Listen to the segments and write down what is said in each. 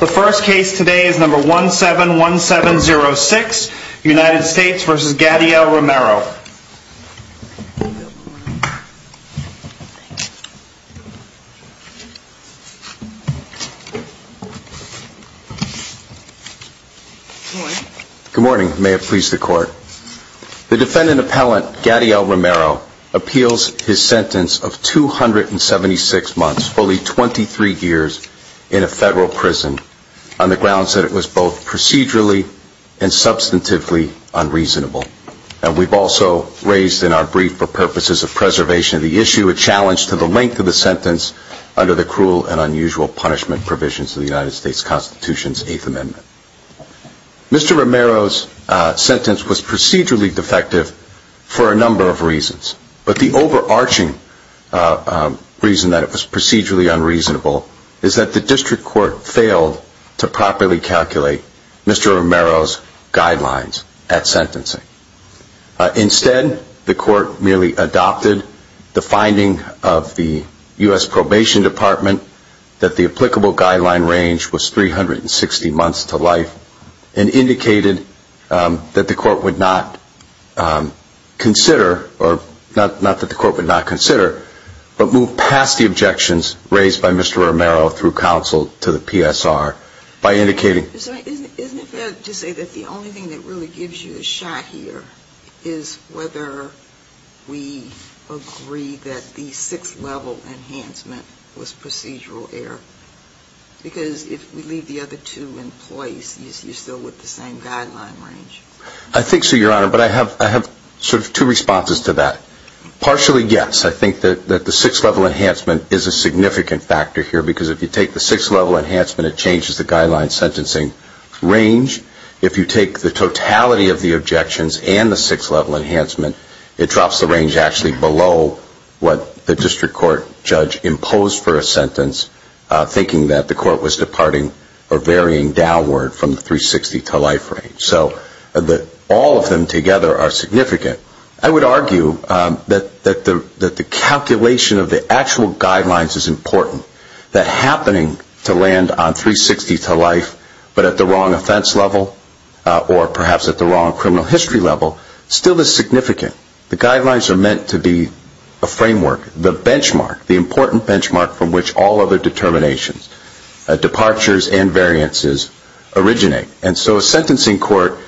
The first case today is number 171706 United States v. Gadiel Romero. Good morning. May it please the court. The defendant appellant, Gadiel Romero, appeals his sentence of 276 months, fully 23 years, in a federal prison on the grounds that it was both procedurally and substantively unreasonable. And we've also raised in our brief for purposes of preservation of the issue, a challenge to the length of the sentence under the cruel and unusual punishment provisions of the United Mr. Romero's sentence was procedurally defective for a number of reasons. But the overarching reason that it was procedurally unreasonable is that the district court failed to properly calculate Mr. Romero's guidelines at sentencing. Instead, the court merely adopted the finding of the U.S. Probation Department that the applicable guideline range was 360 months to life, and indicated that the court would not consider, or not that the court would not consider, but move past the objections raised by Mr. Romero through counsel to the PSR by indicating Isn't it fair to say that the only thing that really gives you a shot here is whether we agree that the sixth level enhancement was procedural error? Because if we leave the other two employees, you're still with the same guideline range. I think so, Your Honor, but I have sort of two responses to that. Partially, yes, I think that the sixth level enhancement is a significant factor here, because if you take the sixth level enhancement, it changes the guideline sentencing range. If you take the totality of the objections and the sixth level enhancement, it drops the range actually below what the district court judge imposed for a sentence, thinking that the court was departing or varying downward from the 360 to life range. So all of them together are significant. I would argue that the calculation of the actual guidelines is important, that happening to land on 360 to life, but at the wrong offense level, or perhaps at the wrong criminal history level, still is significant. The guidelines are meant to be a framework, the benchmark, the important benchmark from which all other determinations, departures and variances, originate. And so a sentencing court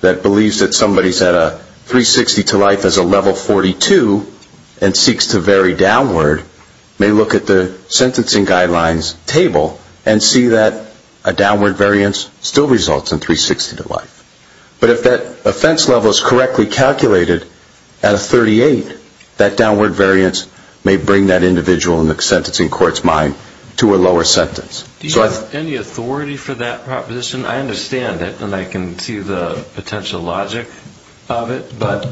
that believes that somebody is at a 360 to life as a level 42 and seeks to vary downward may look at the sentencing guidelines table and see that a downward variance still results in 360 to life. But if that offense level is correctly calculated at a 38, that downward variance may bring that individual in the sentencing court's mind to a lower sentence. Do you have any authority for that proposition? I understand it, and I can see the potential logic of it, but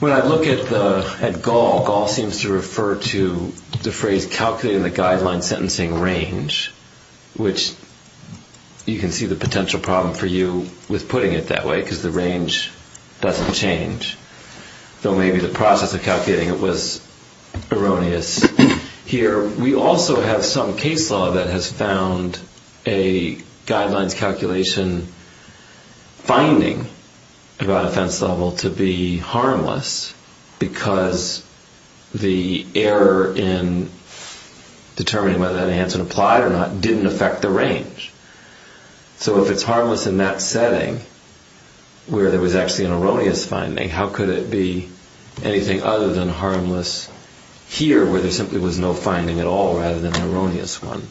when I look at Gaul, Gaul seems to refer to the phrase calculating the guideline sentencing range, which you can see the potential problem for you with putting it that way, because the range doesn't change. Though maybe the process of calculating it was erroneous. Here we also have some case law that has found a guidelines calculation finding about offense level to be harmless, because the error in determining whether that answer applied or not didn't affect the range. So if it's harmless in that setting, where there was actually an erroneous finding, how could it be anything other than harmless here, where there simply was no finding at all, rather than an erroneous one?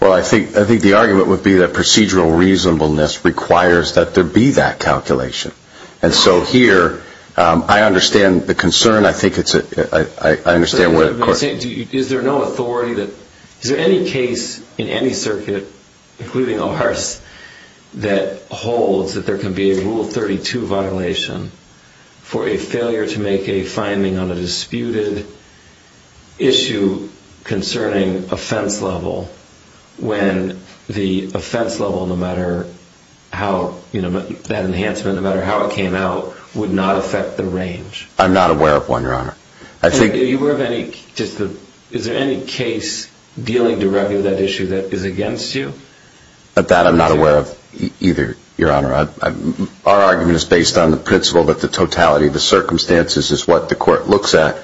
Well, I think the argument would be that procedural reasonableness requires that there be that calculation. And so here, I understand the concern. I think it's a – I understand what the question is. Is there no authority that – is there any case in any circuit, including ours, that holds that there can be a Rule 32 violation for a failure to make a finding on a disputed issue concerning offense level, when the offense level, no matter how – that enhancement, no matter how it came out, would not affect the range? I'm not aware of one, Your Honor. Are you aware of any – is there any case dealing directly with that issue that is against you? That I'm not aware of either, Your Honor. Our argument is based on the principle that the totality of the circumstances is what the court looks at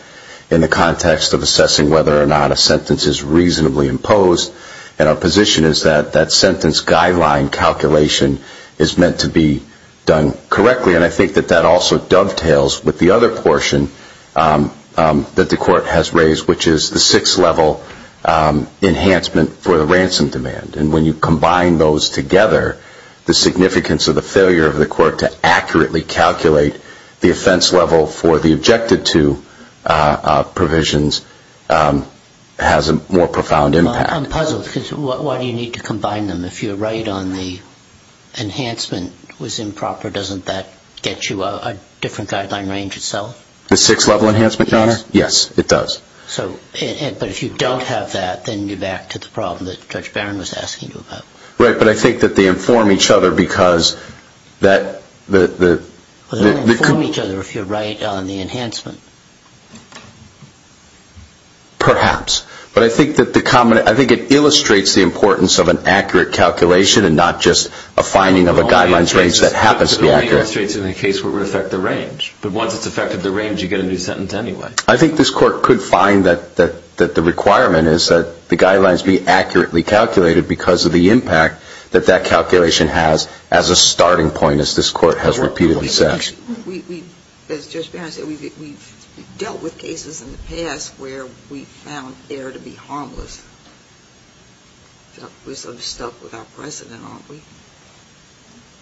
in the context of assessing whether or not a sentence is reasonably imposed. And our position is that that sentence guideline calculation is meant to be done correctly. And I think that that also dovetails with the other portion that the court has raised, which is the six-level enhancement for the ransom demand. And when you combine those together, the significance of the failure of the court to accurately calculate the offense level for the objected-to provisions has a more profound impact. I'm puzzled because why do you need to combine them? If you're right on the enhancement was improper, doesn't that get you a different guideline range itself? The six-level enhancement, Your Honor? Yes, it does. But if you don't have that, then you're back to the problem that Judge Barron was asking you about. Right, but I think that they inform each other because that... They don't inform each other if you're right on the enhancement. Perhaps. But I think it illustrates the importance of an accurate calculation and not just a finding of a guidelines range that happens to be accurate. It only illustrates in the case where it would affect the range. But once it's affected the range, you get a new sentence anyway. I think this court could find that the requirement is that the guidelines be accurately calculated because of the impact that that calculation has as a starting point, as this court has repeatedly said. As Judge Barron said, we've dealt with cases in the past where we found error to be harmless. We're sort of stuck with our precedent, aren't we?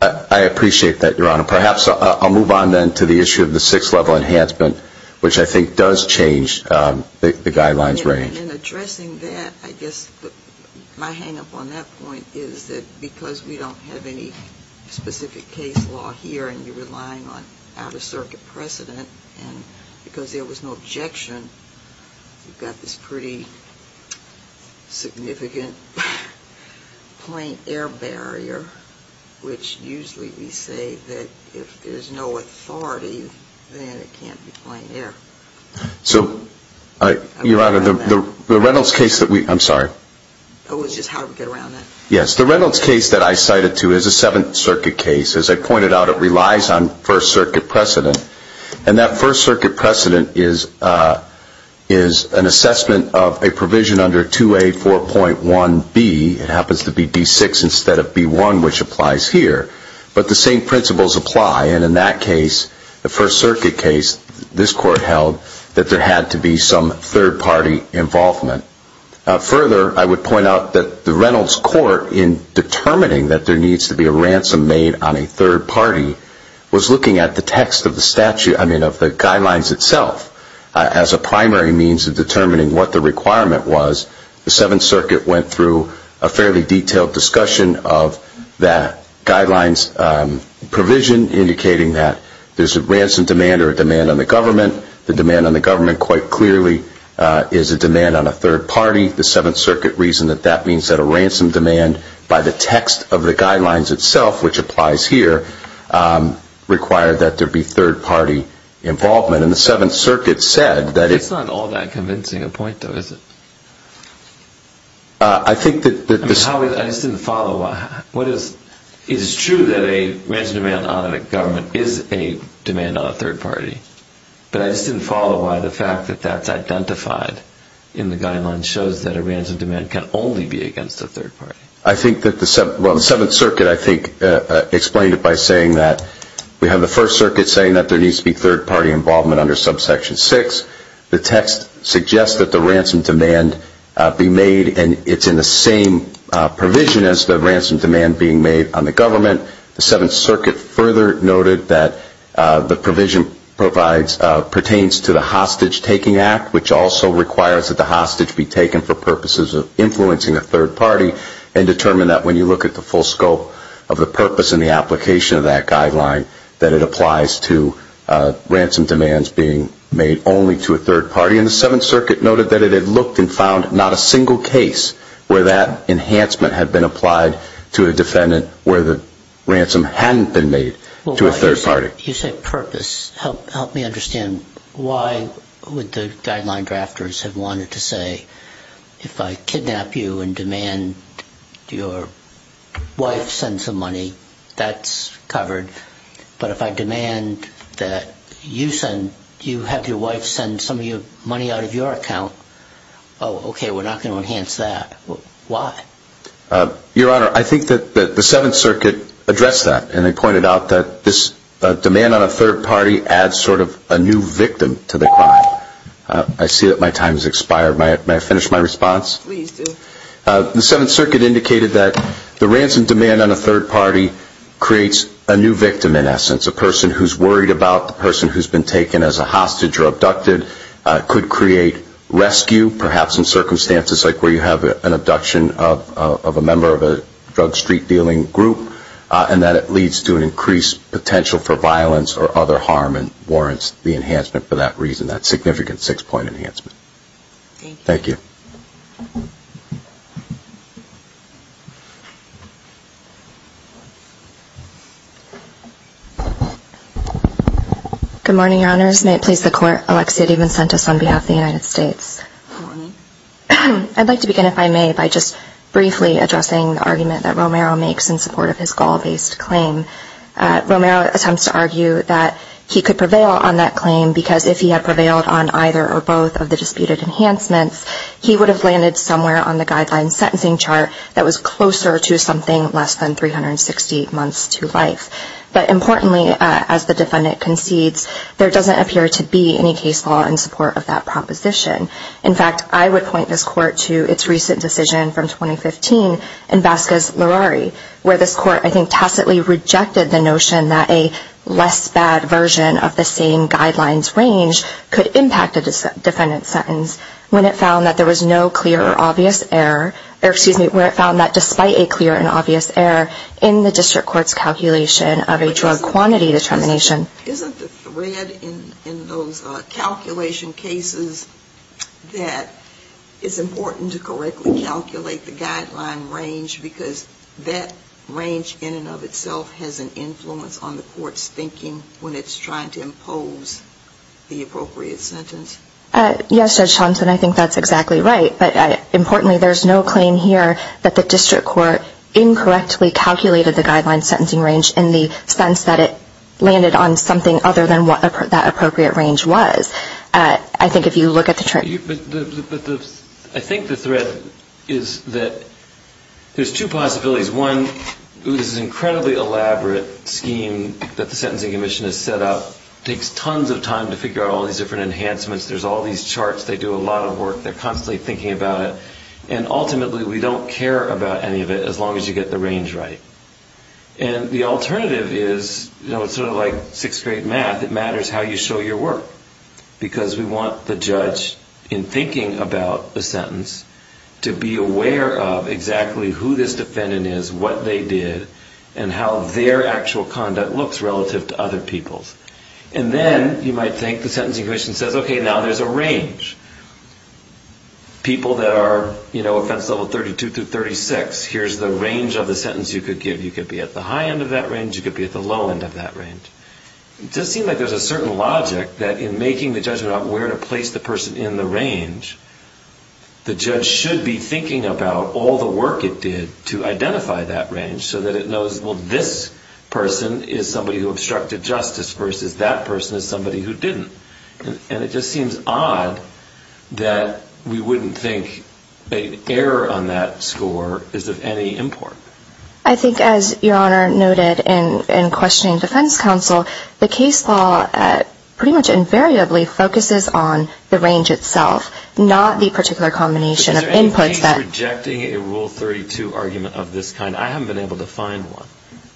I appreciate that, Your Honor. Perhaps I'll move on then to the issue of the six-level enhancement, which I think does change the guidelines range. In addressing that, I guess my hang-up on that point is that because we don't have any specific case law here and you're relying on out-of-circuit precedent and because there was no objection, we've got this pretty significant plain error barrier, which usually we say that if there's no authority, then it can't be plain error. Your Honor, the Reynolds case that I cited to is a Seventh Circuit case. As I pointed out, it relies on First Circuit precedent. And that First Circuit precedent is an assessment of a provision under 2A4.1B. It happens to be D6 instead of B1, which applies here. But the same principles apply. And in that case, the First Circuit case, this Court held that there had to be some third-party involvement. Further, I would point out that the Reynolds Court, in determining that there needs to be a ransom made on a third party, was looking at the text of the statute, I mean of the guidelines itself, as a primary means of determining what the requirement was. The Seventh Circuit went through a fairly detailed discussion of that guidelines provision, indicating that there's a ransom demand or a demand on the government. The demand on the government, quite clearly, is a demand on a third party. The Seventh Circuit reasoned that that means that a ransom demand by the text of the guidelines itself, which applies here, required that there be third-party involvement. And the Seventh Circuit said that... It's not all that convincing a point, though, is it? I think that... I just didn't follow. Is it true that a ransom demand on a government is a demand on a third party? But I just didn't follow why the fact that that's identified in the guidelines shows that a ransom demand can only be against a third party. I think that the... Well, the Seventh Circuit, I think, explained it by saying that we have the First Circuit saying that there needs to be third-party involvement under subsection 6. The text suggests that the ransom demand be made, and it's in the same provision as the ransom demand being made on the government. The Seventh Circuit further noted that the provision pertains to the Hostage Taking Act, which also requires that the hostage be taken for purposes of influencing a third party, and determined that when you look at the full scope of the purpose and the application of that guideline, that it applies to ransom demands being made only to a third party. And the Seventh Circuit noted that it had looked and found not a single case where that enhancement had been applied to a defendant where the ransom hadn't been made to a third party. You say purpose. Help me understand. Why would the guideline drafters have wanted to say, if I kidnap you and demand your wife send some money, that's covered. But if I demand that you have your wife send some money out of your account, oh, okay, we're not going to enhance that. Why? Your Honor, I think that the Seventh Circuit addressed that, and they pointed out that this demand on a third party adds sort of a new victim to the crime. I see that my time has expired. May I finish my response? Please do. The Seventh Circuit indicated that the ransom demand on a third party creates a new victim, in essence, a person who's worried about the person who's been taken as a hostage or abducted, could create rescue, perhaps in circumstances like where you have an abduction of a member of a drug street dealing group, and that it leads to an increased potential for violence or other harm and warrants the enhancement for that reason, that significant six-point enhancement. Thank you. Good morning, Your Honors. May it please the Court, Alexia DeVincentis on behalf of the United States. Good morning. I'd like to begin, if I may, by just briefly addressing the argument that Romero makes in support of his goal-based claim. Romero attempts to argue that he could prevail on that claim because if he had prevailed on either or both of the disputed enhancements, he would have landed somewhere on the guideline sentencing chart that was closer to something less than 360 months to life. But importantly, as the defendant concedes, there doesn't appear to be any case law in support of that proposition. In fact, I would point this Court to its recent decision from 2015 in Vasquez-Lerari, where this Court, I think, tacitly rejected the notion that a less bad version of the same guidelines range could impact a defendant's sentence, when it found that there was no clear or obvious error, or excuse me, where it found that despite a clear and obvious error in the district court's calculation of a drug quantity determination. Isn't the thread in those calculation cases that it's important to correctly calculate the guideline range, because that range in and of itself has an influence on the court's thinking when it's trying to impose the appropriate sentence? Yes, Judge Johnson, I think that's exactly right. But importantly, there's no claim here that the district court incorrectly calculated the guideline sentencing range in the sense that it landed on something other than what that appropriate range was. I think if you look at the chart... I think the thread is that there's two possibilities. One, this is an incredibly elaborate scheme that the Sentencing Commission has set up. It takes tons of time to figure out all these different enhancements. There's all these charts. They do a lot of work. They're constantly thinking about it. And ultimately, we don't care about any of it as long as you get the range right. And the alternative is sort of like sixth grade math. It matters how you show your work. Because we want the judge, in thinking about the sentence, to be aware of exactly who this defendant is, what they did, and how their actual conduct looks relative to other people's. And then you might think the Sentencing Commission says, OK, now there's a range. People that are offense level 32 through 36, here's the range of the sentence you could give. You could be at the high end of that range. You could be at the low end of that range. It does seem like there's a certain logic that in making the judgment on where to place the person in the range, the judge should be thinking about all the work it did to identify that range so that it knows, well, this person is somebody who obstructed justice versus that person is somebody who didn't. And it just seems odd that we wouldn't think an error on that score is of any import. I think, as Your Honor noted in questioning defense counsel, the case law pretty much invariably focuses on the range itself, not the particular combination of inputs that... But is there any case rejecting a Rule 32 argument of this kind? I haven't been able to find one.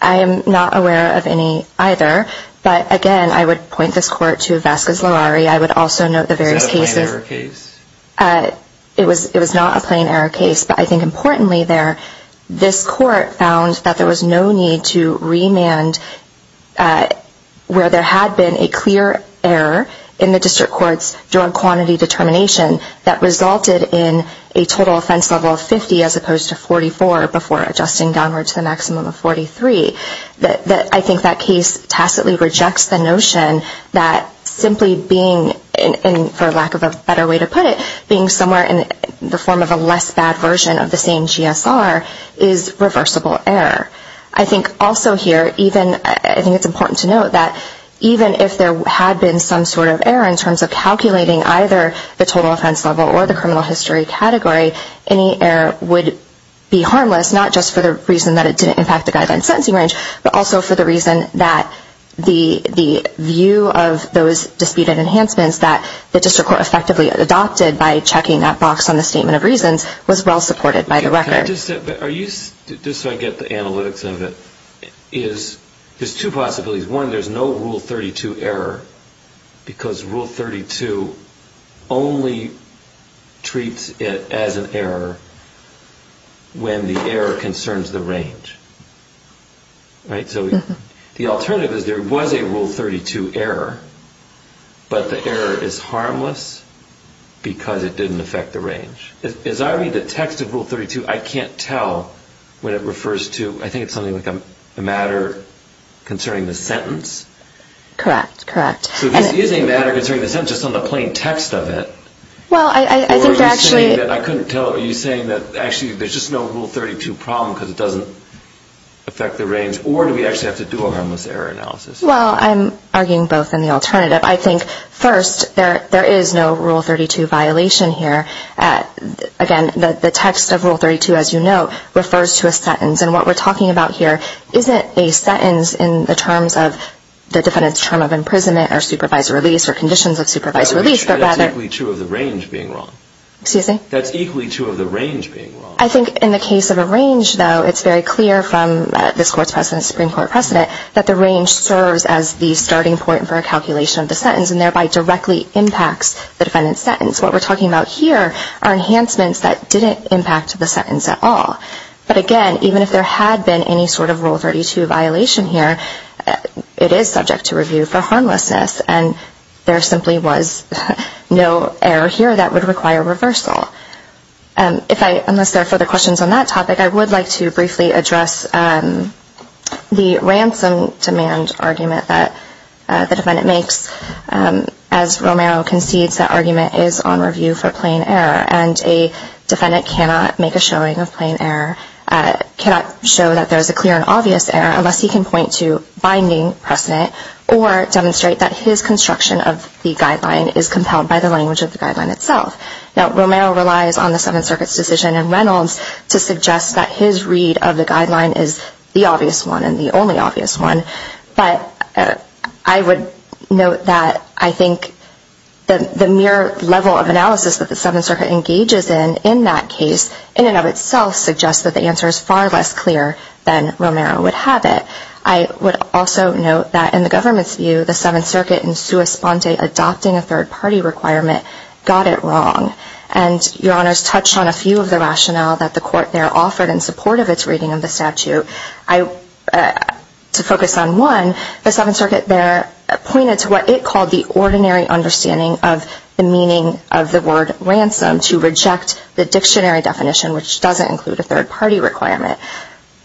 I am not aware of any either. But again, I would point this Court to Vasquez-Lowry. I would also note the various cases... Is that a plain error case? It was not a plain error case. But I think importantly there, this Court found that there was no need to remand where there had been a clear error in the district court's drug quantity determination that resulted in a total offense level of 50 as opposed to 44 before adjusting downward to the maximum of 43. I think that case tacitly rejects the notion that simply being, for lack of a better way to put it, being somewhere in the form of a less bad version of the same GSR is reversible error. I think also here, even... the criminal history category, any error would be harmless, not just for the reason that it didn't impact the guideline sentencing range, but also for the reason that the view of those disputed enhancements that the district court effectively adopted by checking that box on the Statement of Reasons was well supported by the record. Just so I get the analytics of it, there's two possibilities. One, there's no Rule 32 error, because Rule 32 only treats it as an error when the error concerns the range. Right? So the alternative is there was a Rule 32 error, but the error is harmless because it didn't affect the range. As I read the text of Rule 32, I can't tell when it refers to... concerning the sentence? Correct, correct. So this isn't a matter concerning the sentence, it's on the plain text of it. Well, I think actually... I couldn't tell... Are you saying that actually there's just no Rule 32 problem because it doesn't affect the range, or do we actually have to do a harmless error analysis? Well, I'm arguing both in the alternative. I think first, there is no Rule 32 violation here. Again, the text of Rule 32, as you know, refers to a sentence, and what we're talking about here isn't a sentence in the terms of the defendant's term of imprisonment or supervised release or conditions of supervised release, but rather... That's equally true of the range being wrong. Excuse me? That's equally true of the range being wrong. I think in the case of a range, though, it's very clear from this Court's precedent, Supreme Court precedent, that the range serves as the starting point for a calculation of the sentence and thereby directly impacts the defendant's sentence. What we're talking about here are enhancements that didn't impact the sentence at all. But again, even if there had been any sort of Rule 32 violation here, it is subject to review for harmlessness, and there simply was no error here that would require reversal. Unless there are further questions on that topic, I would like to briefly address the ransom demand argument that the defendant makes. As Romero concedes, that argument is on review for plain error, and a defendant cannot make a showing of plain error, cannot show that there is a clear and obvious error, unless he can point to binding precedent or demonstrate that his construction of the guideline is compelled by the language of the guideline itself. Now, Romero relies on the Seventh Circuit's decision in Reynolds to suggest that his read of the guideline is the obvious one and the only obvious one. But I would note that I think the mere level of analysis that the Seventh Circuit engages in, in that case, in and of itself, suggests that the answer is far less clear than Romero would have it. I would also note that in the government's view, the Seventh Circuit in sua sponte adopting a third-party requirement got it wrong. And Your Honors touched on a few of the rationale that the court there offered in support of its reading of the statute. To focus on one, the Seventh Circuit there pointed to what it called the ordinary understanding of the meaning of the word ransom to reject the dictionary definition, which doesn't include a third-party requirement.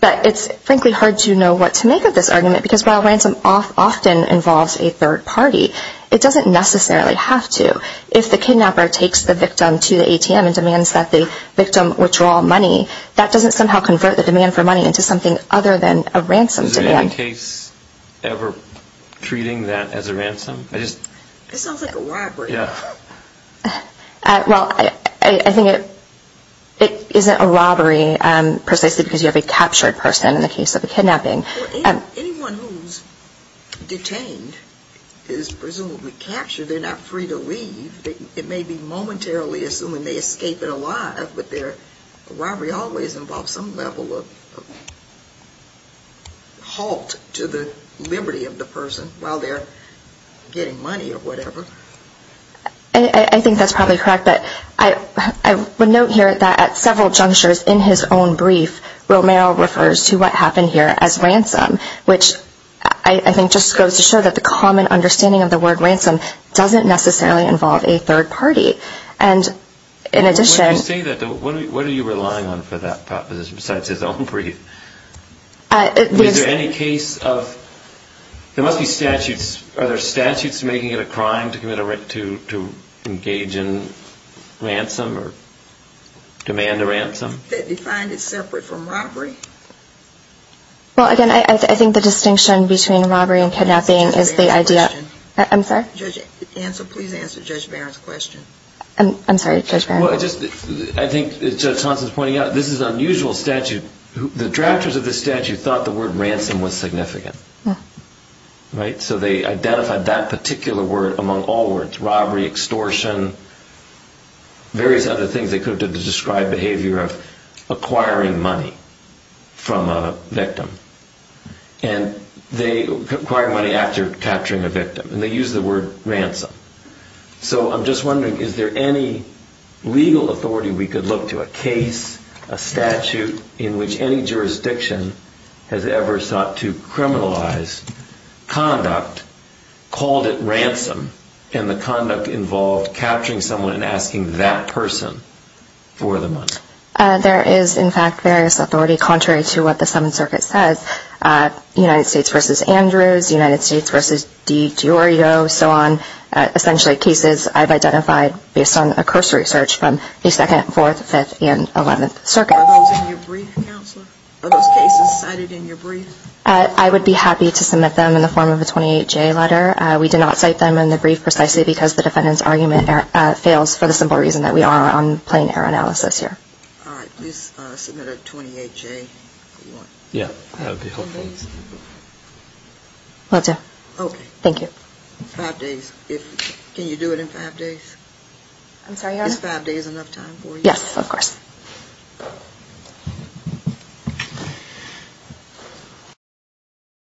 But it's frankly hard to know what to make of this argument, because while ransom often involves a third party, it doesn't necessarily have to. If the kidnapper takes the victim to the ATM and demands that the victim withdraw money, that doesn't somehow convert the demand for money into something other than a ransom demand. Is there any case ever treating that as a ransom? It sounds like a robbery. Well, I think it isn't a robbery precisely because you have a captured person in the case of a kidnapping. Well, anyone who's detained is presumably captured. They're not free to leave. It may be momentarily, assuming they escape it alive, but a robbery always involves some level of halt to the liberty of the person while they're getting money or whatever. I think that's probably correct. But I would note here that at several junctures in his own brief, Romero refers to what happened here as ransom, which I think just goes to show that the common understanding of the word ransom doesn't necessarily involve a third party. What are you relying on for that proposition besides his own brief? Are there statutes making it a crime to engage in ransom or demand a ransom? That defined it separate from robbery? Well, again, I think the distinction between robbery and kidnapping is the idea— Judge Barron's question. I'm sorry? Judge Ansel, please answer Judge Barron's question. I'm sorry, Judge Barron. I think, as Judge Thompson's pointing out, this is an unusual statute. The drafters of this statute thought the word ransom was significant. So they identified that particular word among all words, various other things that could describe behavior of acquiring money from a victim. And they acquired money after capturing a victim. And they used the word ransom. So I'm just wondering, is there any legal authority we could look to? A case, a statute in which any jurisdiction has ever sought to criminalize conduct called it ransom, and the conduct involved capturing someone and asking that person for the money. There is, in fact, various authority contrary to what the Seventh Circuit says. United States v. Andrews, United States v. DiGiorgio, so on, essentially cases I've identified based on a cursory search from the Second, Fourth, Fifth, and Eleventh Circuits. Are those in your brief, Counselor? Are those cases cited in your brief? I would be happy to submit them in the form of a 28-J letter. We did not cite them in the brief precisely because the defendant's argument fails for the simple reason that we are on plain error analysis here. All right. Please submit a 28-J. Yeah, that would be helpful. Will do. Okay. Thank you. Five days. Can you do it in five days? I'm sorry, Your Honor? Is five days enough time for you? Yes, of course. Thank you.